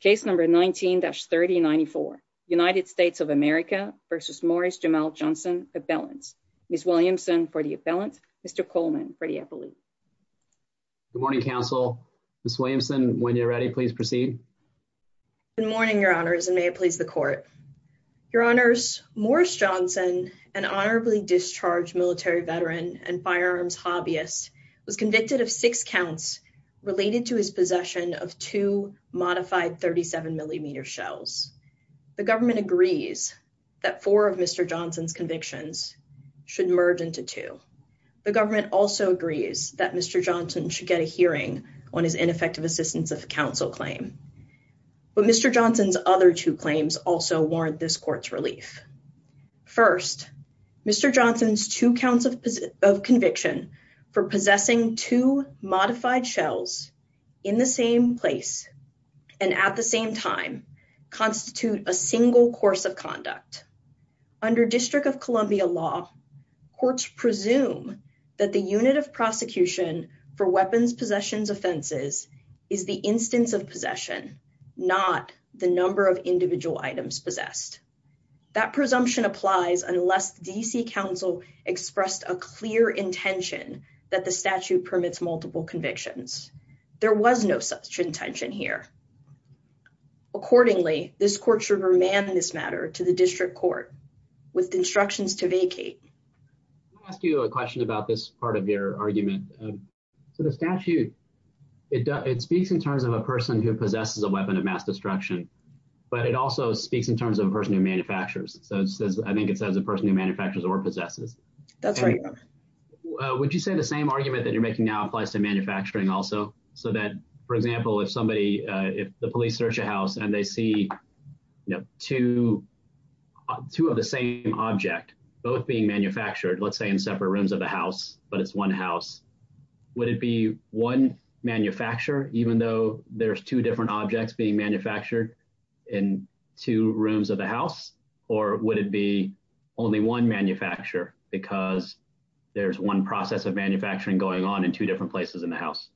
Case number 19-3094 United States of America v. Morris Jamel Johnson, appellant. Ms. Williamson for the appellant, Mr. Coleman for the appellate. Good morning, counsel. Ms. Williamson, when you're ready, please proceed. Good morning, your honors, and may it please the court. Your honors, Morris Johnson, an honorably discharged military veteran and firearms hobbyist, was convicted of six counts related to his possession of two modified 37-millimeter shells. The government agrees that four of Mr. Johnson's convictions should merge into two. The government also agrees that Mr. Johnson should get a hearing on his ineffective assistance of counsel claim. But Mr. Johnson's other two claims also warrant this court's relief. First, Mr. Johnson's two counts of conviction for possessing two modified shells in the same place and at the same time constitute a single course of conduct. Under District of Columbia law, courts presume that the unit of prosecution for weapons possessions offenses is the instance of applies unless D.C. counsel expressed a clear intention that the statute permits multiple convictions. There was no such intention here. Accordingly, this court should remand this matter to the district court with instructions to vacate. I'll ask you a question about this part of your argument. So the statute, it speaks in terms of a person who possesses a weapon of So I think it says a person who manufactures or possesses. That's right. Would you say the same argument that you're making now applies to manufacturing also? So that, for example, if the police search a house and they see two of the same object, both being manufactured, let's say in separate rooms of the house, but it's one house, would it be one manufacturer, even though there's two different objects being manufactured in two rooms of the house? Or would it be only one manufacturer because there's one process of manufacturing going on in two different places in the house?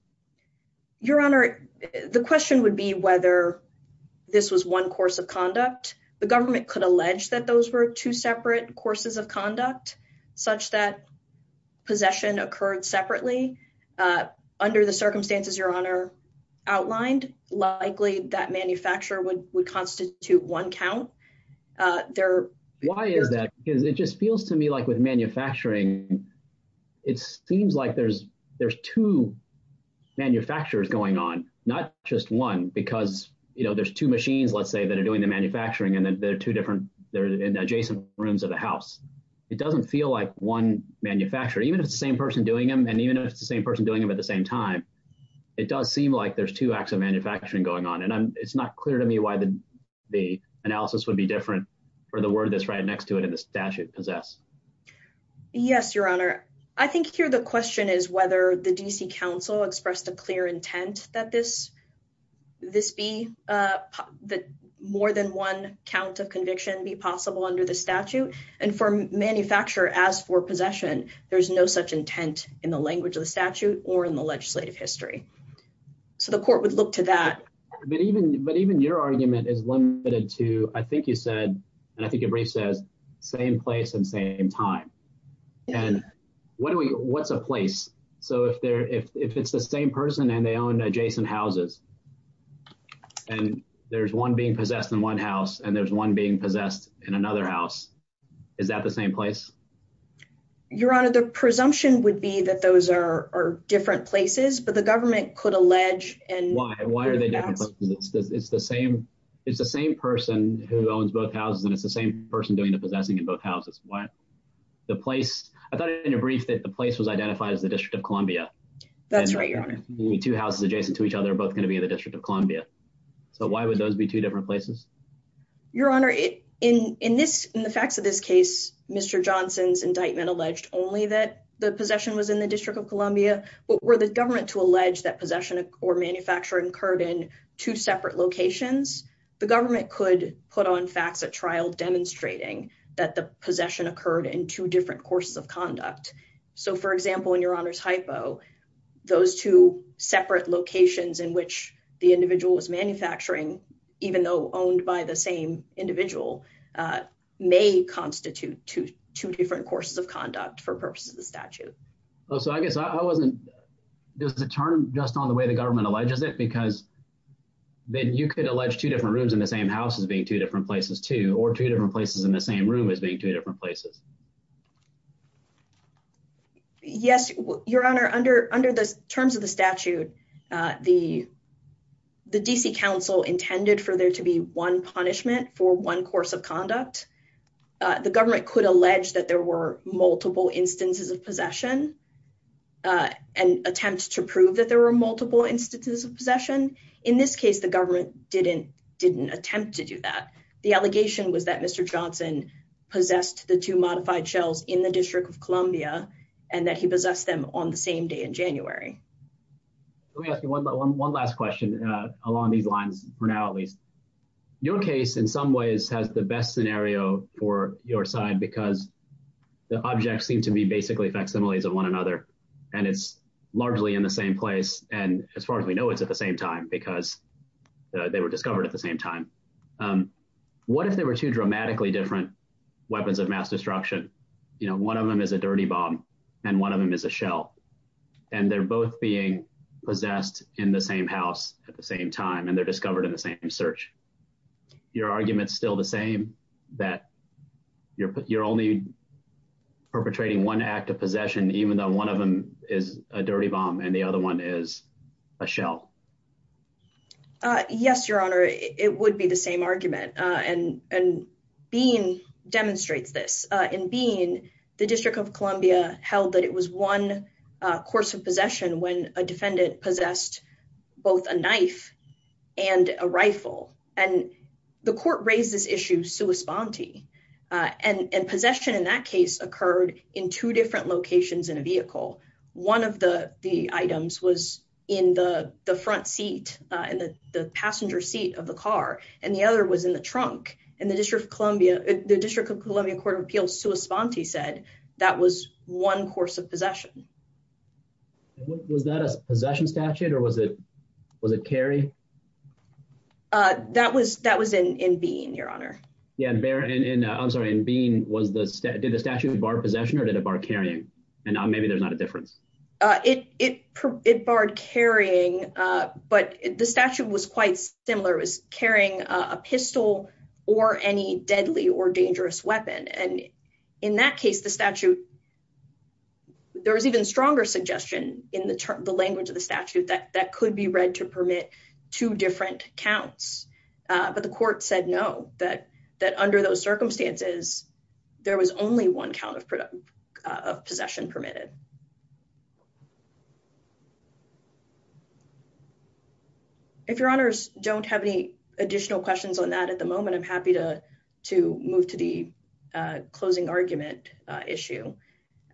Your Honor, the question would be whether this was one course of conduct. The government could allege that those were two separate courses of conduct, such that possession occurred separately. Under the circumstances Your Honor outlined, likely that manufacturer would constitute one count. Why is that? Because it just feels to me like with manufacturing, it seems like there's two manufacturers going on, not just one, because there's two machines, let's say, that are doing the manufacturing and then there are two different adjacent rooms of the house. It doesn't feel like one manufacturer, even if it's the same person doing them, and even if it's the same person doing them at the same time, it does seem like there's two acts of manufacturing going on. And it's not clear to me why the analysis would be different for the word that's right next to it in the statute, possess. Yes, Your Honor. I think here the question is whether the D.C. Council expressed a clear intent that more than one count of conviction be possible under the statute. And for manufacturer as for possession, there's no such intent in the language of the statute or in the legislative history. So the court would look to that. But even your argument is limited to, I think you said, and I think your brief says, same place and same time. And what's a place? So if it's the same person and they own adjacent houses and there's one being possessed in one house and there's one possessed in another house, is that the same place? Your Honor, the presumption would be that those are different places, but the government could allege. And why? Why are they different? It's the same. It's the same person who owns both houses and it's the same person doing the possessing in both houses. Why the place? I thought in your brief that the place was identified as the District of Columbia. That's right. Two houses adjacent to each other are both going to be in places. Your Honor, in the facts of this case, Mr. Johnson's indictment alleged only that the possession was in the District of Columbia. But were the government to allege that possession or manufacturing occurred in two separate locations, the government could put on facts at trial demonstrating that the possession occurred in two different courses of conduct. So for example, in your Honor's hypo, those two separate locations in which the individual was owned by the same individual may constitute two different courses of conduct for purposes of the statute. Oh, so I guess I wasn't, does it turn just on the way the government alleges it? Because then you could allege two different rooms in the same house as being two different places too, or two different places in the same room as being two different places. Yes, Your Honor, under the terms of the statute, the D.C. Council intended for there to be punishment for one course of conduct. The government could allege that there were multiple instances of possession and attempt to prove that there were multiple instances of possession. In this case, the government didn't attempt to do that. The allegation was that Mr. Johnson possessed the two modified shells in the District of Columbia and that he possessed them on the same day in January. Let me ask you one last question along these for now at least. Your case in some ways has the best scenario for your side because the objects seem to be basically facsimiles of one another and it's largely in the same place. And as far as we know, it's at the same time because they were discovered at the same time. What if there were two dramatically different weapons of mass destruction? You know, one of them is a dirty bomb and one of them is a shell and they're both being possessed in the same house at the same time and they're discovered in the same search. Your argument's still the same that you're only perpetrating one act of possession even though one of them is a dirty bomb and the other one is a shell? Yes, Your Honor, it would be the same argument. And Bean demonstrates this. In Bean, the District of Columbia held that it was one course of possession when a defendant possessed both a knife and a rifle. And the court raised this issue sua sponte. And possession in that case occurred in two different locations in a vehicle. One of the items was in the front seat, in the passenger seat of the car, and the other was in the trunk. And the District of Columbia Court of Appeals sua sponte said that was one course of possession. Was that a possession statute or was it carry? That was in Bean, Your Honor. Yeah, I'm sorry, in Bean, did the statute bar possession or did it bar carrying? And maybe there's not a difference. It barred carrying, but the statute was quite similar. It was carrying a pistol or any deadly or dangerous weapon. And in that case, the statute, there was even stronger suggestion in the language of the statute that could be read to permit two different counts. But the court said no, that under those circumstances, there was only one count of possession permitted. If Your Honors don't have any additional questions on that at the moment, I'm happy to move to the closing argument issue.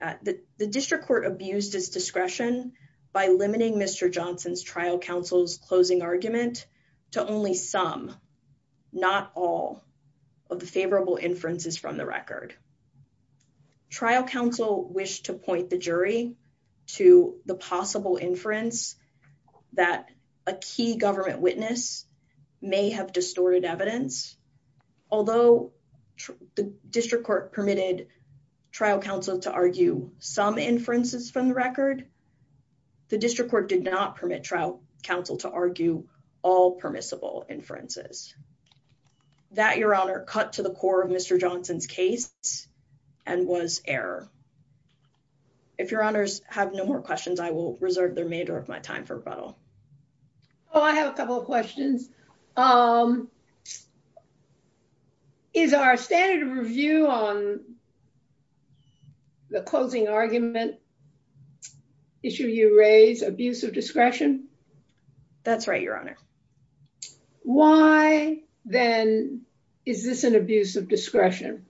The district court abused its discretion by limiting Mr. Johnson's trial counsel's closing argument to only some, not all, of the favorable inferences from the record. Trial counsel wished to point the jury to the possible inference that a key government witness may have distorted evidence. Although the district court permitted trial counsel to argue some inferences from the record, the district court did not permit trial counsel to argue all permissible inferences. That, Your Honor, cut to the core of Mr. Johnson's case and was error. If Your Honors have no more questions, I will reserve the remainder of my time for rebuttal. Oh, I have a couple of questions. Is our standard of review on the closing argument issue you raised abuse of discretion? That's right, Your Honor. Why, then, is this an abuse of discretion?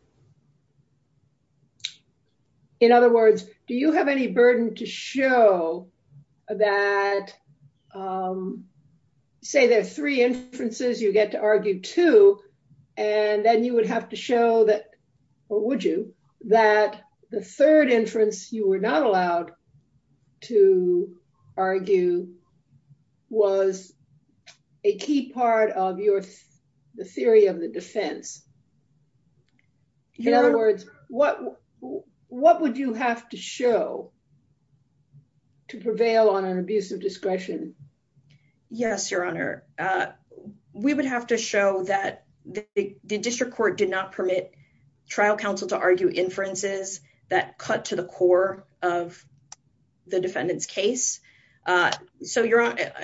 In other words, do you have any burden to show that, say, there are three inferences you get to argue to, and then you would have to show that, or would you, that the third inference you were not In other words, what would you have to show to prevail on an abuse of discretion? Yes, Your Honor. We would have to show that the district court did not permit trial counsel to argue inferences that cut to the core of the defendant's case. So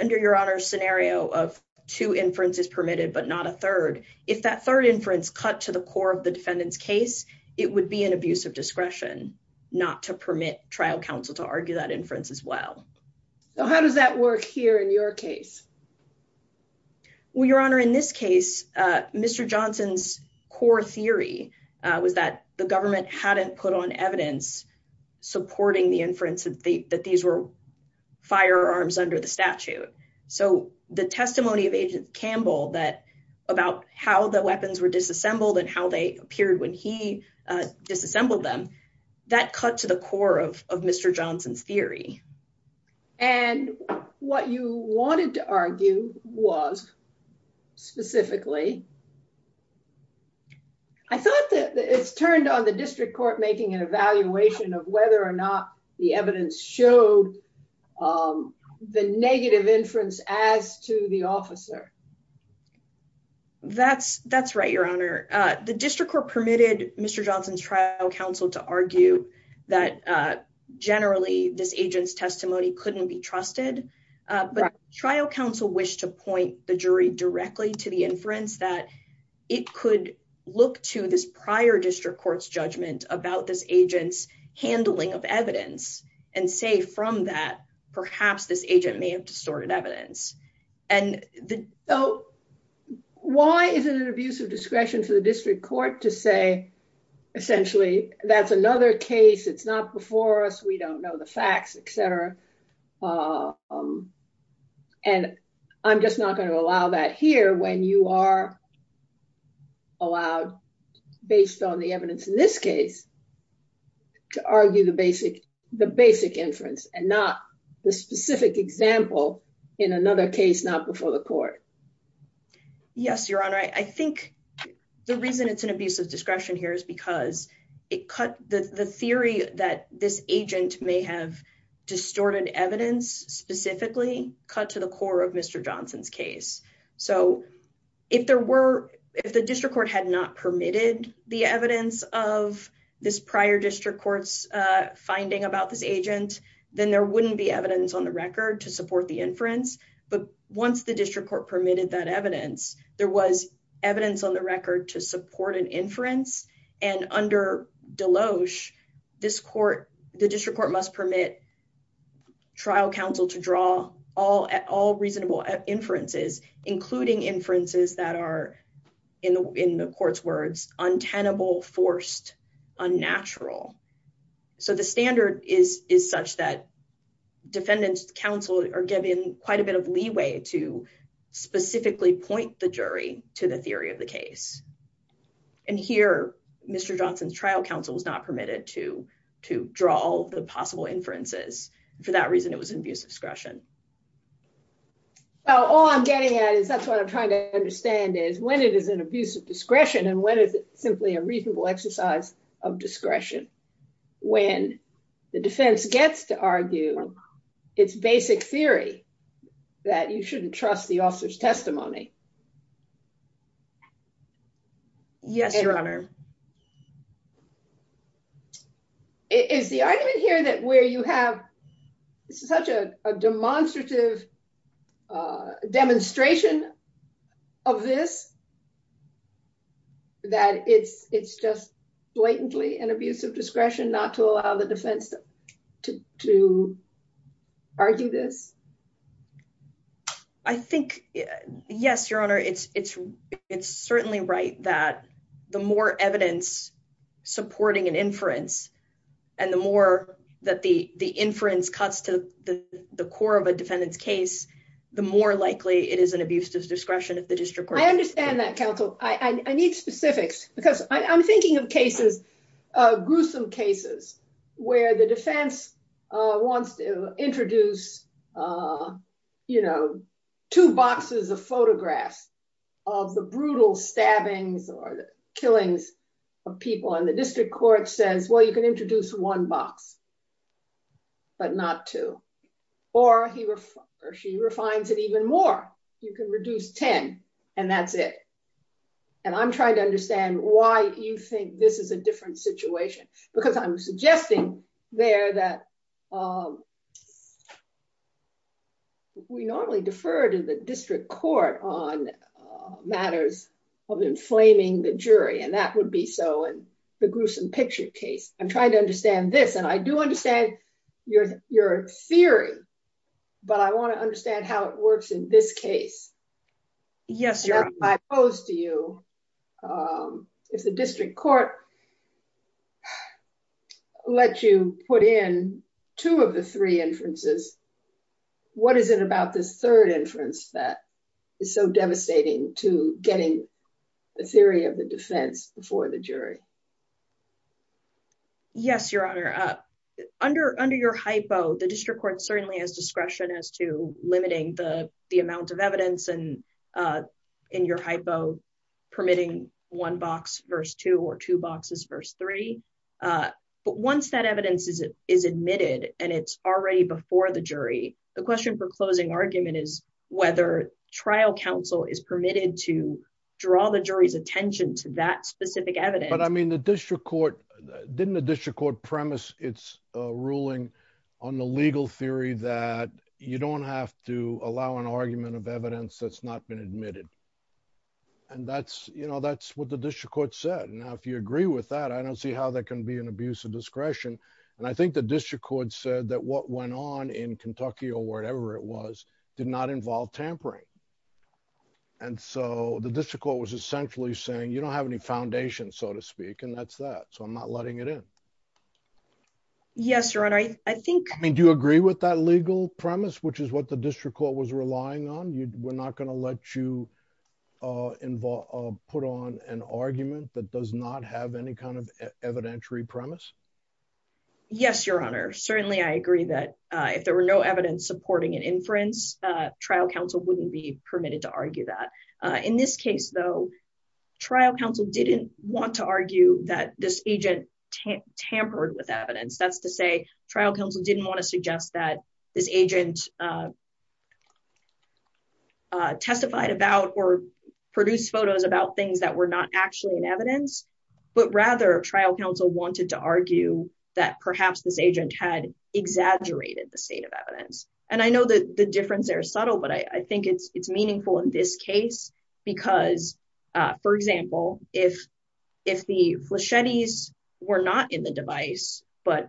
under Your Honor's scenario of two inferences permitted but not a third, if that third inference cut to the core of the defendant's case, it would be an abuse of discretion not to permit trial counsel to argue that inference as well. So how does that work here in your case? Well, Your Honor, in this case, Mr. Johnson's core theory was that the government hadn't put on evidence supporting the inference that these were firearms under the statute. So the testimony of Agent Campbell about how the weapons were disassembled and how they appeared when he disassembled them, that cut to the core of Mr. Johnson's theory. And what you wanted to argue was, specifically, I thought that it's turned on the district court making an evaluation of whether or not the evidence showed the negative inference as to the officer. That's right, Your Honor. The district court permitted Mr. Johnson's trial counsel to argue that generally this agent's testimony couldn't be trusted. But trial counsel wished to point the jury directly to the inference that it could look to this prior district court's judgment about this agent's handling of evidence and say, from that, perhaps this agent may have distorted evidence. So why is it an abuse of discretion for the district court to say, essentially, that's another case, it's not before us, we don't know the facts, et cetera. And I'm just not going to allow that here when you are allowed, based on the evidence in this case, to argue the basic inference and not the specific example in another case not before the court. Yes, Your Honor. I think the reason it's an abuse of discretion here is because it cut the theory that this agent may have distorted evidence, specifically, cut to the core of Mr. Johnson's case. So if the district court had not permitted the evidence of this prior district court's finding about this agent, then there wouldn't be evidence on the record to support the inference. But once the district court permitted that evidence, there was evidence on the record to support an inference. And under Deloche, the district court must permit trial counsel to draw all reasonable inferences, including inferences that are, in the court's words, untenable, forced, unnatural. So the standard is such that defendants counsel are given quite a bit of leeway to specifically point the jury to the theory of the case. And here, Mr. Johnson's trial counsel was not permitted to draw all the possible inferences. For that reason, it was an abuse of discretion. All I'm getting at is, that's what I'm trying to understand, is when it is an abuse of discretion, and when is it simply a reasonable exercise of discretion? When the defense gets to argue its basic theory, that you shouldn't trust the officer's testimony. Yes, Your Honor. Is the argument here that where you have, this is such a demonstrative demonstration of this, that it's just blatantly an abuse of discretion not to allow the defense to argue this? I think, yes, Your Honor, it's certainly right that the more evidence supporting an inference, and the more that the inference cuts to the core of a defendant's case, the more likely it is an abuse of discretion. I need specifics, because I'm thinking of gruesome cases where the defense wants to introduce two boxes of photographs of the brutal stabbings or the killings of people. And the district court says, well, you can introduce one box, but not two. Or she refines it even more. You can reduce 10, and that's it. And I'm trying to understand why you think this is a different situation, because I'm suggesting there that we normally defer to the district court on matters of inflaming the jury, and that would be so in the gruesome picture case. I'm trying to understand this, and I do understand your theory, but I want to understand how it works in this case. Yes, Your Honor. If the district court let you put in two of the three inferences, what is it about this third inference that is so devastating to getting the theory of the defense before the jury? Yes, Your Honor. Under your hypo, the district court certainly has discretion as to limiting the amount of evidence in your hypo, permitting one box, verse two, or two boxes, verse three. But once that evidence is admitted, and it's already before the jury, the question for closing argument is whether trial counsel is permitted to draw the jury's attention to that specific evidence. But I mean, the district court, didn't the district court premise its ruling on the legal theory that you don't have to allow an argument of evidence that's not been admitted? And that's, you know, that's what the district court said. Now, if you agree with that, I don't see how that can be an abuse of discretion. And I think the district court said that what went on in Kentucky or wherever it was did not involve tampering. And so the district court was essentially saying, you don't have any foundation, so to speak, and that's that. So I'm not letting it in. Yes, Your Honor, I think... I mean, do you agree with that legal premise, which is what the district court was relying on? We're not going to let you put on an argument that does not have any kind of evidentiary premise? Yes, Your Honor. Certainly, I agree that if there were no evidence supporting an inference, trial counsel wouldn't be permitted to argue that. In this case, though, trial counsel didn't want to argue that this agent tampered with evidence. That's to say, trial counsel didn't want to suggest that this agent testified about or produced photos about things that were not actually in evidence. But rather, trial counsel wanted to argue that perhaps this agent had exaggerated the state of evidence. I don't know if that makes sense. There are subtle, but I think it's meaningful in this case because, for example, if the flechettis were not in the device but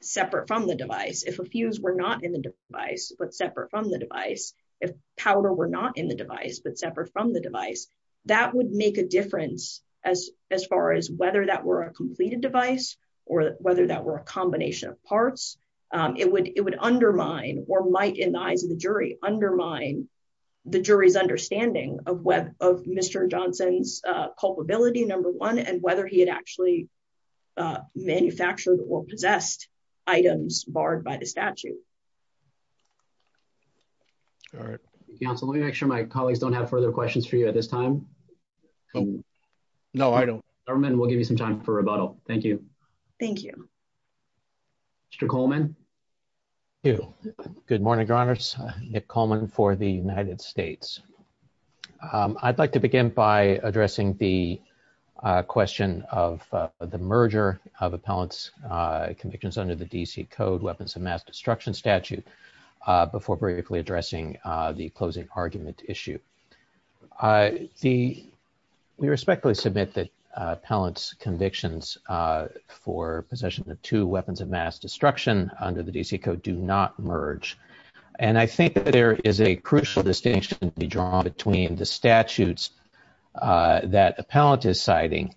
separate from the device, if a fuse were not in the device but separate from the device, if powder were not in the device but separate from the device, that would make a difference as far as whether that were a completed device or whether that were a combination of parts. It would undermine or might, in the eyes of the jury, undermine the jury's understanding of Mr. Johnson's culpability, number one, and whether he had actually manufactured or possessed items barred by the statute. All right. Counsel, let me make sure my colleagues don't have further questions for you at this time. No, I don't. Government, we'll give you some time for rebuttal. Thank you. Thank you. Mr. Coleman. Thank you. Good morning, Your Honors. Nick Coleman for the United States. I'd like to begin by addressing the question of the merger of appellant's convictions under the D.C. Code Weapons of Mass Destruction statute before briefly addressing the closing argument issue. We respectfully submit that appellant's convictions for possession of two weapons of mass destruction under the D.C. Code do not merge, and I think that there is a crucial distinction to be drawn between the statutes that appellant is citing,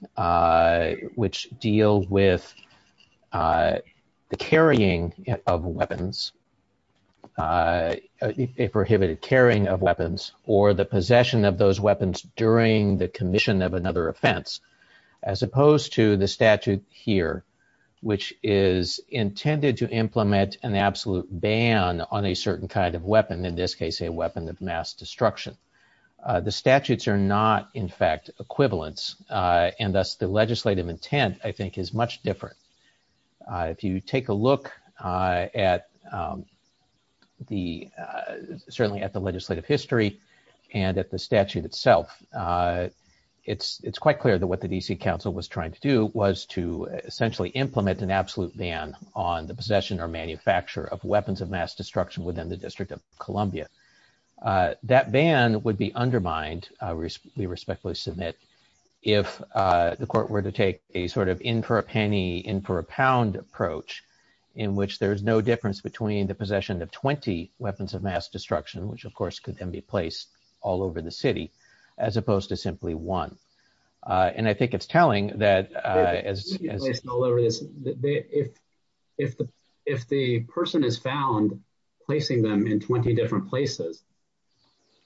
which deal with the carrying of weapons, a prohibited carrying of weapons, or the possession of those weapons during the commission of another offense, as opposed to the statute here, which is intended to implement an absolute ban on a certain kind of weapon, in this case, a weapon of mass destruction. The statutes are not, in fact, equivalents, and thus the legislative intent, I think, is much different. If you take a look at the, certainly at the legislative history and at the statute itself, it's quite clear that what the D.C. Council was trying to do was to essentially implement an absolute ban on the possession or manufacture of weapons of mass destruction within the District of Columbia. That ban would be undermined, we respectfully submit, if the court were to take a sort of in-for-a-penny, in-for-a-pound approach, in which there's no difference between the possession of 20 weapons of mass destruction, which of course could then be placed all over the city, as opposed to simply one. And I think it's telling that as... If the person is found placing them in 20 different places,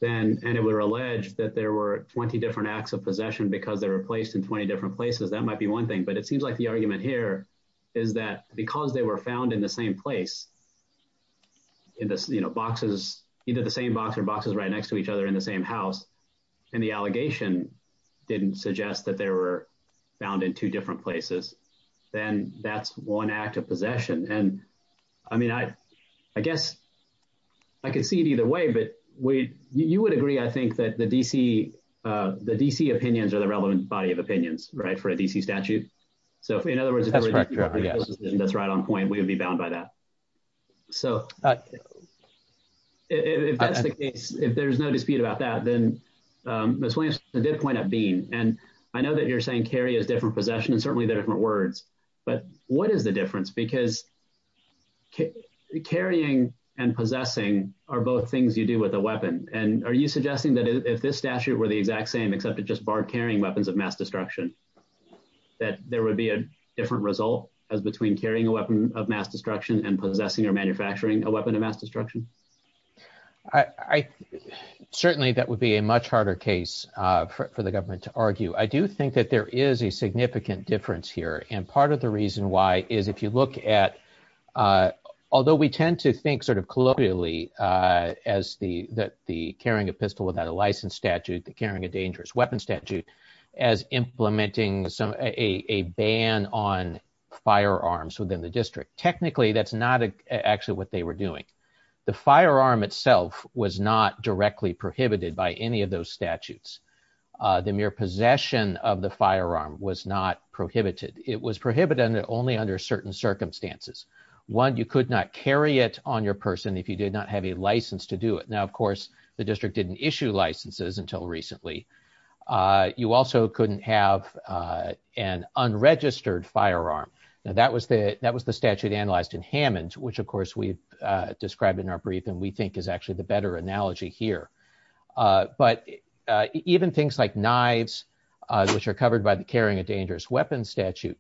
then, and it would allege that there were 20 different acts of possessions, that might be one thing, but it seems like the argument here is that because they were found in the same place, in this, you know, boxes, either the same box or boxes right next to each other in the same house, and the allegation didn't suggest that they were found in two different places, then that's one act of possession. And I mean, I guess I could see it either way, but you would agree, I think, that the DC opinions are the relevant body of opinions, right, for a DC statute. So in other words, if that's right on point, we would be bound by that. So if that's the case, if there's no dispute about that, then Ms. Williams did point out Bean, and I know that you're saying carry is different possession, and certainly they're different words, but what is the difference? Because carrying and possessing are both things you do with a weapon, and are you suggesting that if this statute were the exact same, except it just barred carrying weapons of mass destruction, that there would be a different result as between carrying a weapon of mass destruction and possessing or manufacturing a weapon of mass destruction? Certainly, that would be a much harder case for the government to argue. I do think that there is a significant difference here, and part of the reason why is if you look at, although we tend to think sort of colloquially as the carrying a pistol without a license statute, the carrying a dangerous weapon statute, as implementing a ban on firearms within the district. Technically, that's not actually what they were doing. The firearm itself was not directly prohibited by any of those statutes. The mere possession of the firearm was not prohibited. It was prohibited only under certain circumstances. One, you could not carry it on your person if you did not have a license to do it. Now, of course, the district didn't issue licenses until recently. You also couldn't have an unregistered firearm. Now, that was the statute analyzed in Hammond, which of course we've the better analogy here. But even things like knives, which are covered by the carrying a dangerous weapon statute,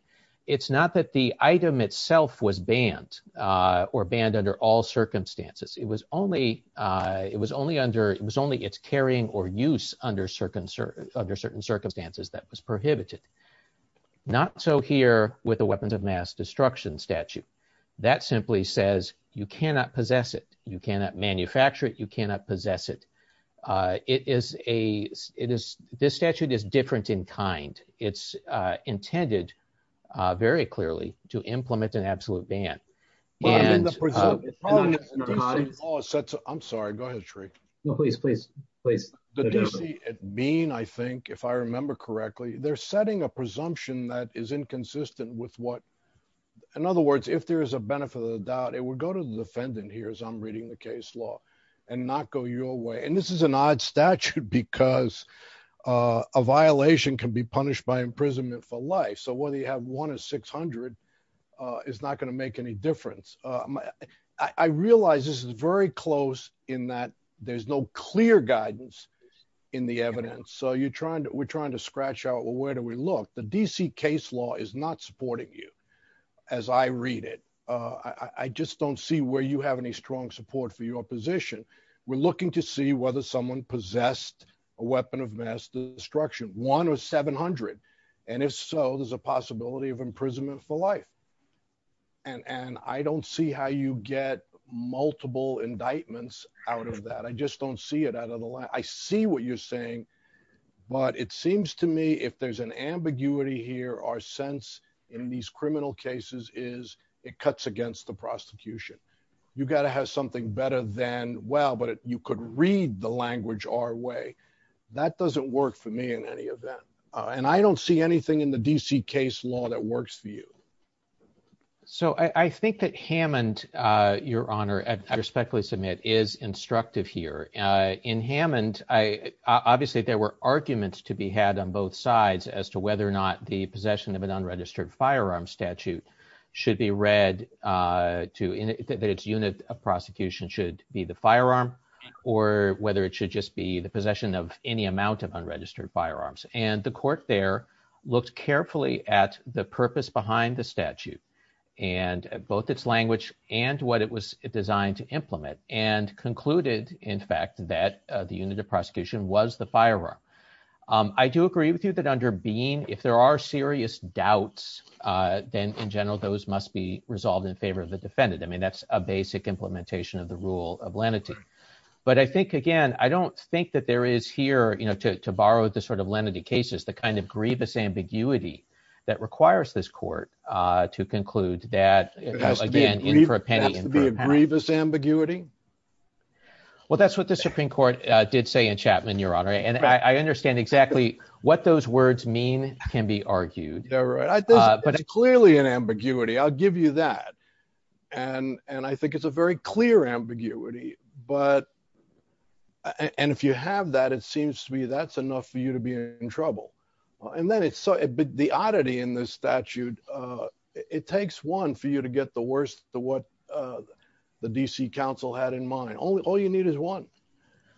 it's not that the item itself was banned or banned under all circumstances. It was only its carrying or use under certain circumstances that was prohibited. Not so here with the weapons of mass destruction statute. That simply says you cannot possess it. You cannot manufacture it. You cannot possess it. This statute is different in kind. It's intended very clearly to implement an absolute ban. I'm sorry. Go ahead, Shree. No, please, please, please. The D.C. mean, I think, if I remember correctly, they're setting a presumption that is inconsistent with what, in other words, if there is a benefit of the doubt, it would go to the defendant here, I'm reading the case law and not go your way. And this is an odd statute because a violation can be punished by imprisonment for life. So whether you have one or 600 is not going to make any difference. I realize this is very close in that there's no clear guidance in the evidence. So you're trying to, we're trying to scratch out, well, where do we look? The D.C. case law is not supporting you as I read it. I just don't see where you have any strong support for your position. We're looking to see whether someone possessed a weapon of mass destruction, one or 700. And if so, there's a possibility of imprisonment for life. And I don't see how you get multiple indictments out of that. I just don't see it out of the line. I see what you're saying, but it seems to me if there's an ambiguity here, our sense in these criminal cases is it cuts against the prosecution. You've got to have something better than, well, but you could read the language our way. That doesn't work for me in any of that. And I don't see anything in the D.C. case law that works for you. So I think that Hammond, Your Honor, I respectfully submit, is instructive here. In Hammond, obviously there were arguments to be had on both sides as to whether or not the possession of an unregistered firearm statute should be read to, that its unit of prosecution should be the firearm or whether it should just be the possession of any amount of unregistered firearms. And the court there looked carefully at the purpose behind the statute and both its language and what it was designed to implement and concluded, in fact, that the unit of prosecution was the firearm. I do agree with you that under Bean, if there are serious doubts, then in general, those must be resolved in favor of the defendant. I mean, that's a basic implementation of the rule of lenity. But I think, again, I don't think that there is here, you know, to borrow the sort of lenity cases, the kind of grievous ambiguity that requires this court to conclude that, again, in for a penny, in for a pound. It has to be a grievous ambiguity? Well, that's what the Supreme Court did say in Chapman, Your Honor. And I understand exactly what those words mean can be argued. They're right. It's clearly an ambiguity. I'll give you that. And I think it's a very clear ambiguity. But and if you have that, it seems to be that's enough for you to be in trouble. And then it's the oddity in this statute. It takes one for you to get the worst of what the D.C. Council had in mind. All you need is one.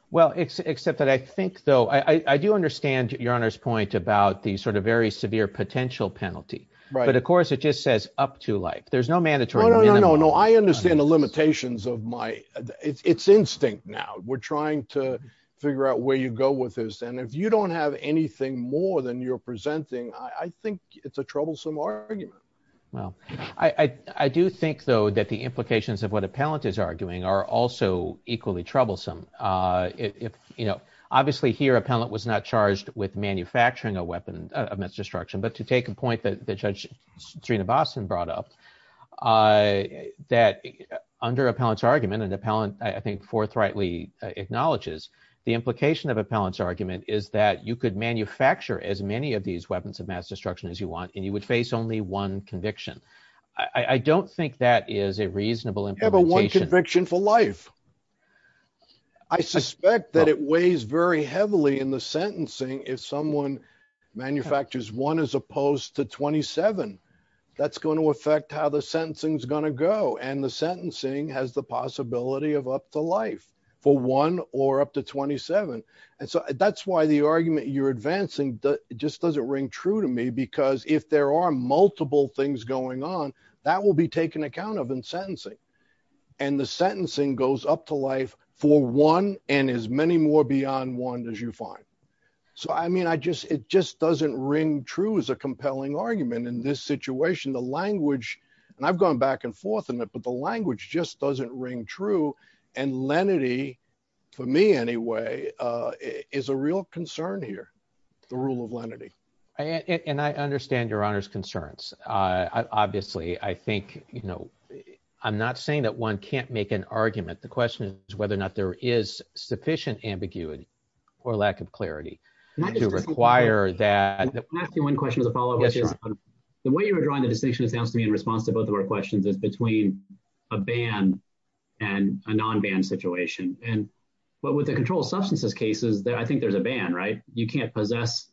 Well, except that I think, though, I do understand Your Honor's point about the sort of very severe potential penalty. But of course, it just says up to life. There's no mandatory. No, no, no, no. I understand the limitations of my it's instinct. Now we're trying to figure out where you go with this. And if you don't have anything more than you're presenting, I think it's a troublesome argument. Well, I do think, though, that the implications of what appellant is arguing are also equally troublesome. If you know, obviously, here, appellant was not charged with manufacturing a weapon of mass destruction. But to take a point that Judge Serena Boston brought up that under appellant's argument and appellant, I think, forthrightly acknowledges the implication of appellant's argument is that you could manufacture as many of these weapons of mass destruction as you want and you would face only one conviction. I don't think that is a reasonable implementation of a conviction for life. I suspect that it weighs very heavily in the sentencing. If someone manufactures one as opposed to 27, that's going to affect how the sentencing is going to go. And the sentencing has the possibility of up to life for one or up to 27. And so that's why the argument you're advancing just doesn't ring true to me, because if there are multiple things going on, that will be taken account of in sentencing. And the sentencing goes up to life for one and as many more beyond one as you find. So, I mean, I just, it just doesn't ring true as a compelling argument in this situation. The language, and I've gone back and forth in it, but the language just doesn't ring true. And lenity, for me anyway, is a real concern here, the rule of lenity. And I understand your honor's concerns. Obviously, I think, you know, I'm not saying that one can't make an argument. The question is whether or not there is sufficient ambiguity or lack of clarity to require that. Can I ask you one question as a follow-up? Yes, your honor. The way you were drawing the distinction, it sounds to me in response to both of our questions, is between a ban and a non-ban situation. And, but with the controlled substances cases, I think there's a ban, right? You can't possess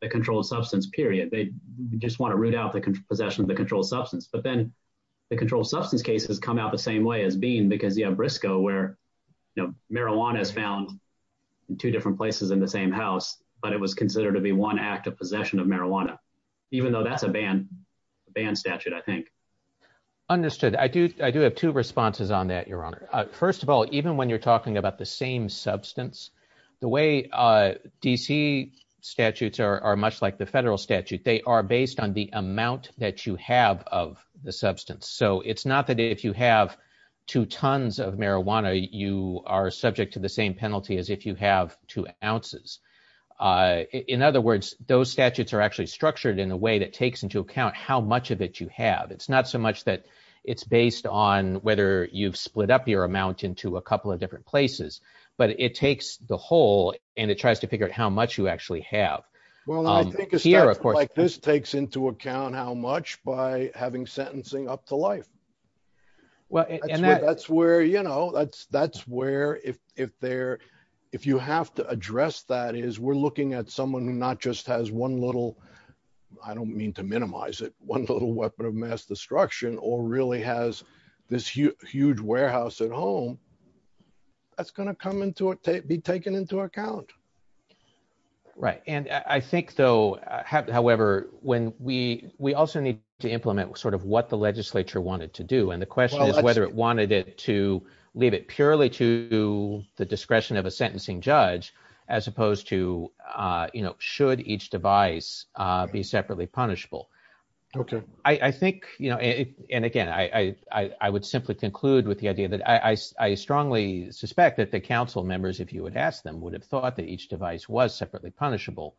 the controlled substance, period. They just want to root out the possession of the controlled substance. But then the controlled substance cases come out the same way as being, because you have Briscoe where, you know, marijuana is found in two different places in the same house, but it was considered to be one act of possession of marijuana, even though that's a ban, a ban statute, I think. Understood. I do, I do have two responses on that, your honor. First of all, even when you're talking about the same substance, the way D.C. statutes are much like the federal statute, they are based on the amount that you have of the substance. So it's not that if you have two tons of marijuana, you are subject to the same penalty as if you have two ounces. In other words, those statutes are actually structured in a way that takes into account how much of it you have. It's not so much that it's based on whether you've split up your amount into a couple of different places, but it takes the whole and it tries to figure out how much you actually have. Well, I think it's like this takes into account how much by having sentencing up to life. Well, and that's where, you know, that's, that's where if, if there, if you have to address that is we're looking at someone who not just has one little, I don't mean to minimize it, one little weapon of mass destruction, or really has this huge warehouse at home, that's going to come into it, be taken into account. Right. And I think though, however, when we, we also need to implement sort of what the legislature wanted to do. And the question is whether it wanted it to leave it purely to the discretion of a sentencing judge, as opposed to, you know, should each device be separately punishable? Okay. I think, you know, and again, I would simply conclude with the idea that I, I strongly suspect that the council members, if you would ask them would have thought that each device was separately punishable.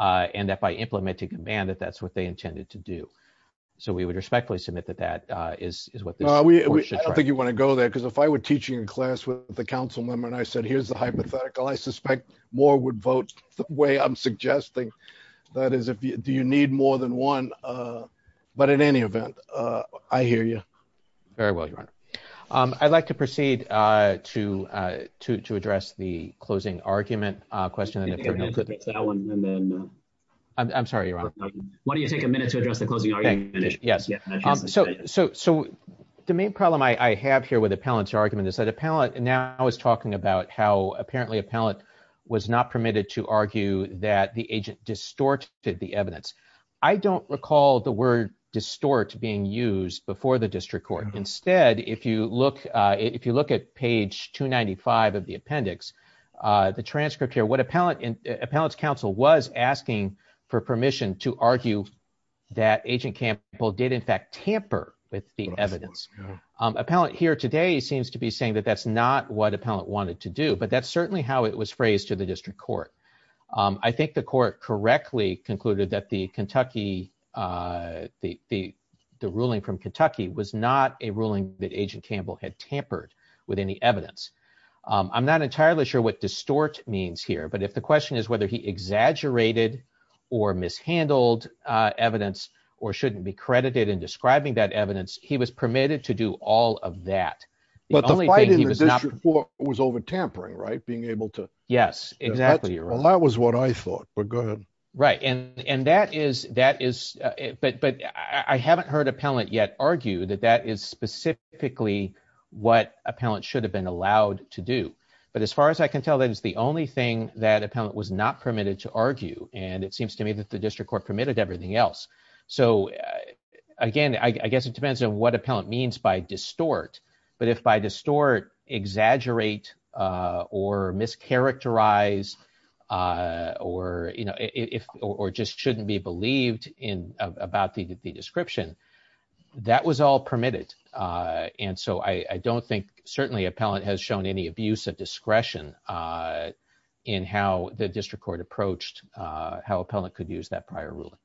And that by implementing a ban, that that's what they intended to do. So we would respectfully submit that that is what I think you want to go there. Cause if I were teaching a class with the council member, and I said, here's the hypothetical, I suspect more would vote the way I'm suggesting. That is, if you, do you need more than one? But in any event, I hear you. Very well, Your Honor. I'd like to proceed to, to, to address the closing argument question. I'm sorry, Your Honor. Why don't you take a minute to address the closing argument? Yes. So, so, so the main problem I have here with appellant's argument is that appellant now is talking about how apparently appellant was not permitted to argue that the agent distorted the evidence. I don't recall the word distort being used before the if you look at page 295 of the appendix the transcript here, what appellant in appellant's council was asking for permission to argue that agent Campbell did in fact tamper with the evidence. Appellant here today seems to be saying that that's not what appellant wanted to do, but that's certainly how it was phrased to the district court. I think the court correctly concluded that the Kentucky, the, the, the ruling from Kentucky was not a ruling that agent Campbell had tampered with any evidence. I'm not entirely sure what distort means here, but if the question is whether he exaggerated or mishandled evidence or shouldn't be credited in describing that evidence, he was permitted to do all of that. The only thing he was not was over tampering, right? Being able to, yes, exactly. Well, that was what I thought, but go right. And, and that is, that is, but, but I haven't heard appellant yet argue that that is specifically what appellant should have been allowed to do. But as far as I can tell, that is the only thing that appellant was not permitted to argue. And it seems to me that the district court permitted everything else. So again, I guess it depends on what appellant means by distort, but if by distort exaggerate or mischaracterize or, you know, if, or just shouldn't be believed in about the, the description that was all permitted. And so I don't think certainly appellant has shown any abuse of discretion in how the district court approached how appellant could use that prior ruling.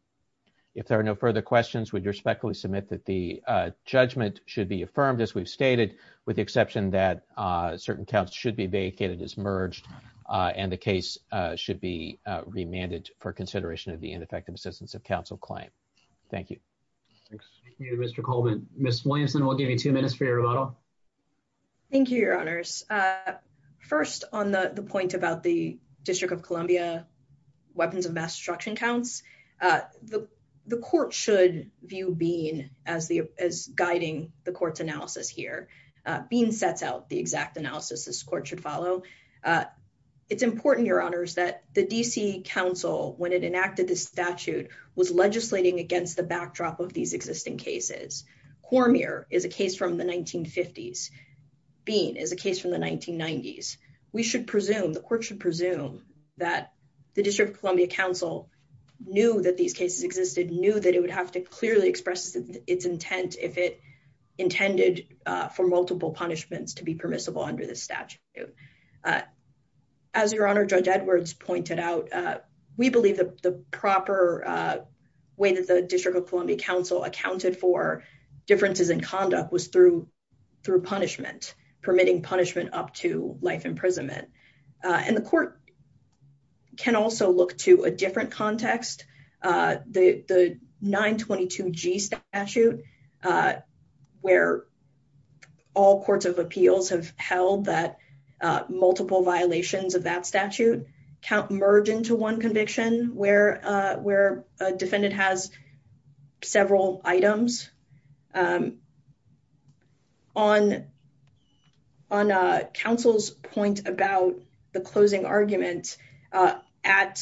If there are no further questions, would respectfully submit that the judgment should be affirmed as we've stated with the exception that certain counts should be vacated as merged and the case should be remanded for consideration of the ineffective assistance of counsel claim. Thank you. Thank you, Mr. Coleman. Ms. Williamson, we'll give you two minutes for your rebuttal. Thank you, your honors. First on the point about the district of Columbia weapons of mass destruction counts. The, the court should view being as the, as guiding the court's analysis here being sets out the exact analysis this court should follow. It's important, your honors, that the DC council, when it enacted this statute was legislating against the backdrop of these existing cases. Cormier is a case from the 1950s. Bean is a case from the 1990s. We should presume the court should presume that the district of Columbia council knew that these cases existed, knew that it would have to clearly express its intent if it intended for multiple punishments to be permissible under this statute. As your honor, judge Edwards pointed out, we believe that the proper way that the district of Columbia council accounted for differences in conduct was through, through punishment, permitting punishment up to life imprisonment. And the court can also look to a different context. The, the nine 22 G statute where all courts of appeals have held that multiple violations of that statute count merge into one conviction where, where a defendant has several items. On, on counsel's point about the closing argument at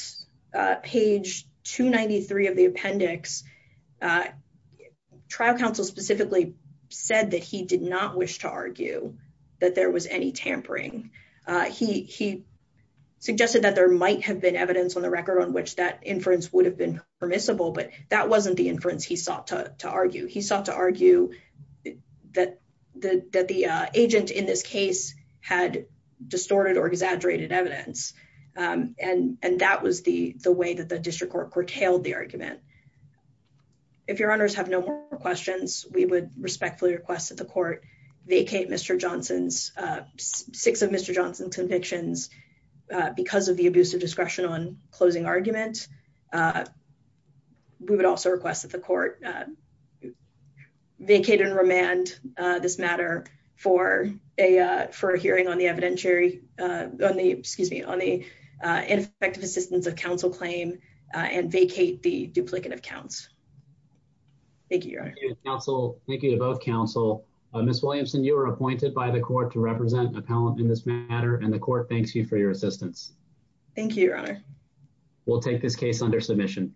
page 293 of the appendix, trial counsel specifically said that he did not wish to argue that there was any tampering. He, he suggested that there might have been evidence on the record on which that inference would have been permissible, but that wasn't the inference he sought to argue. He sought to argue that the, that the agent in this case had distorted or exaggerated evidence. And, and that was the, the way that the district court curtailed the argument. If your honors have no more questions, we would respectfully request that the court vacate Mr. Johnson's six of Mr. Johnson's convictions because of the abuse of discretion on closing argument. We would also request that the court vacated and remand this matter for a, for a hearing on the evidentiary on the, excuse me, on the ineffective assistance of counsel claim and vacate the duplicate of counts. Thank you. Your honor. Thank you to both counsel, Ms. Williamson, you were appointed by the court to represent appellant in this matter. And the court thanks you for your assistance. Thank you, your honor. We'll take this case under submission.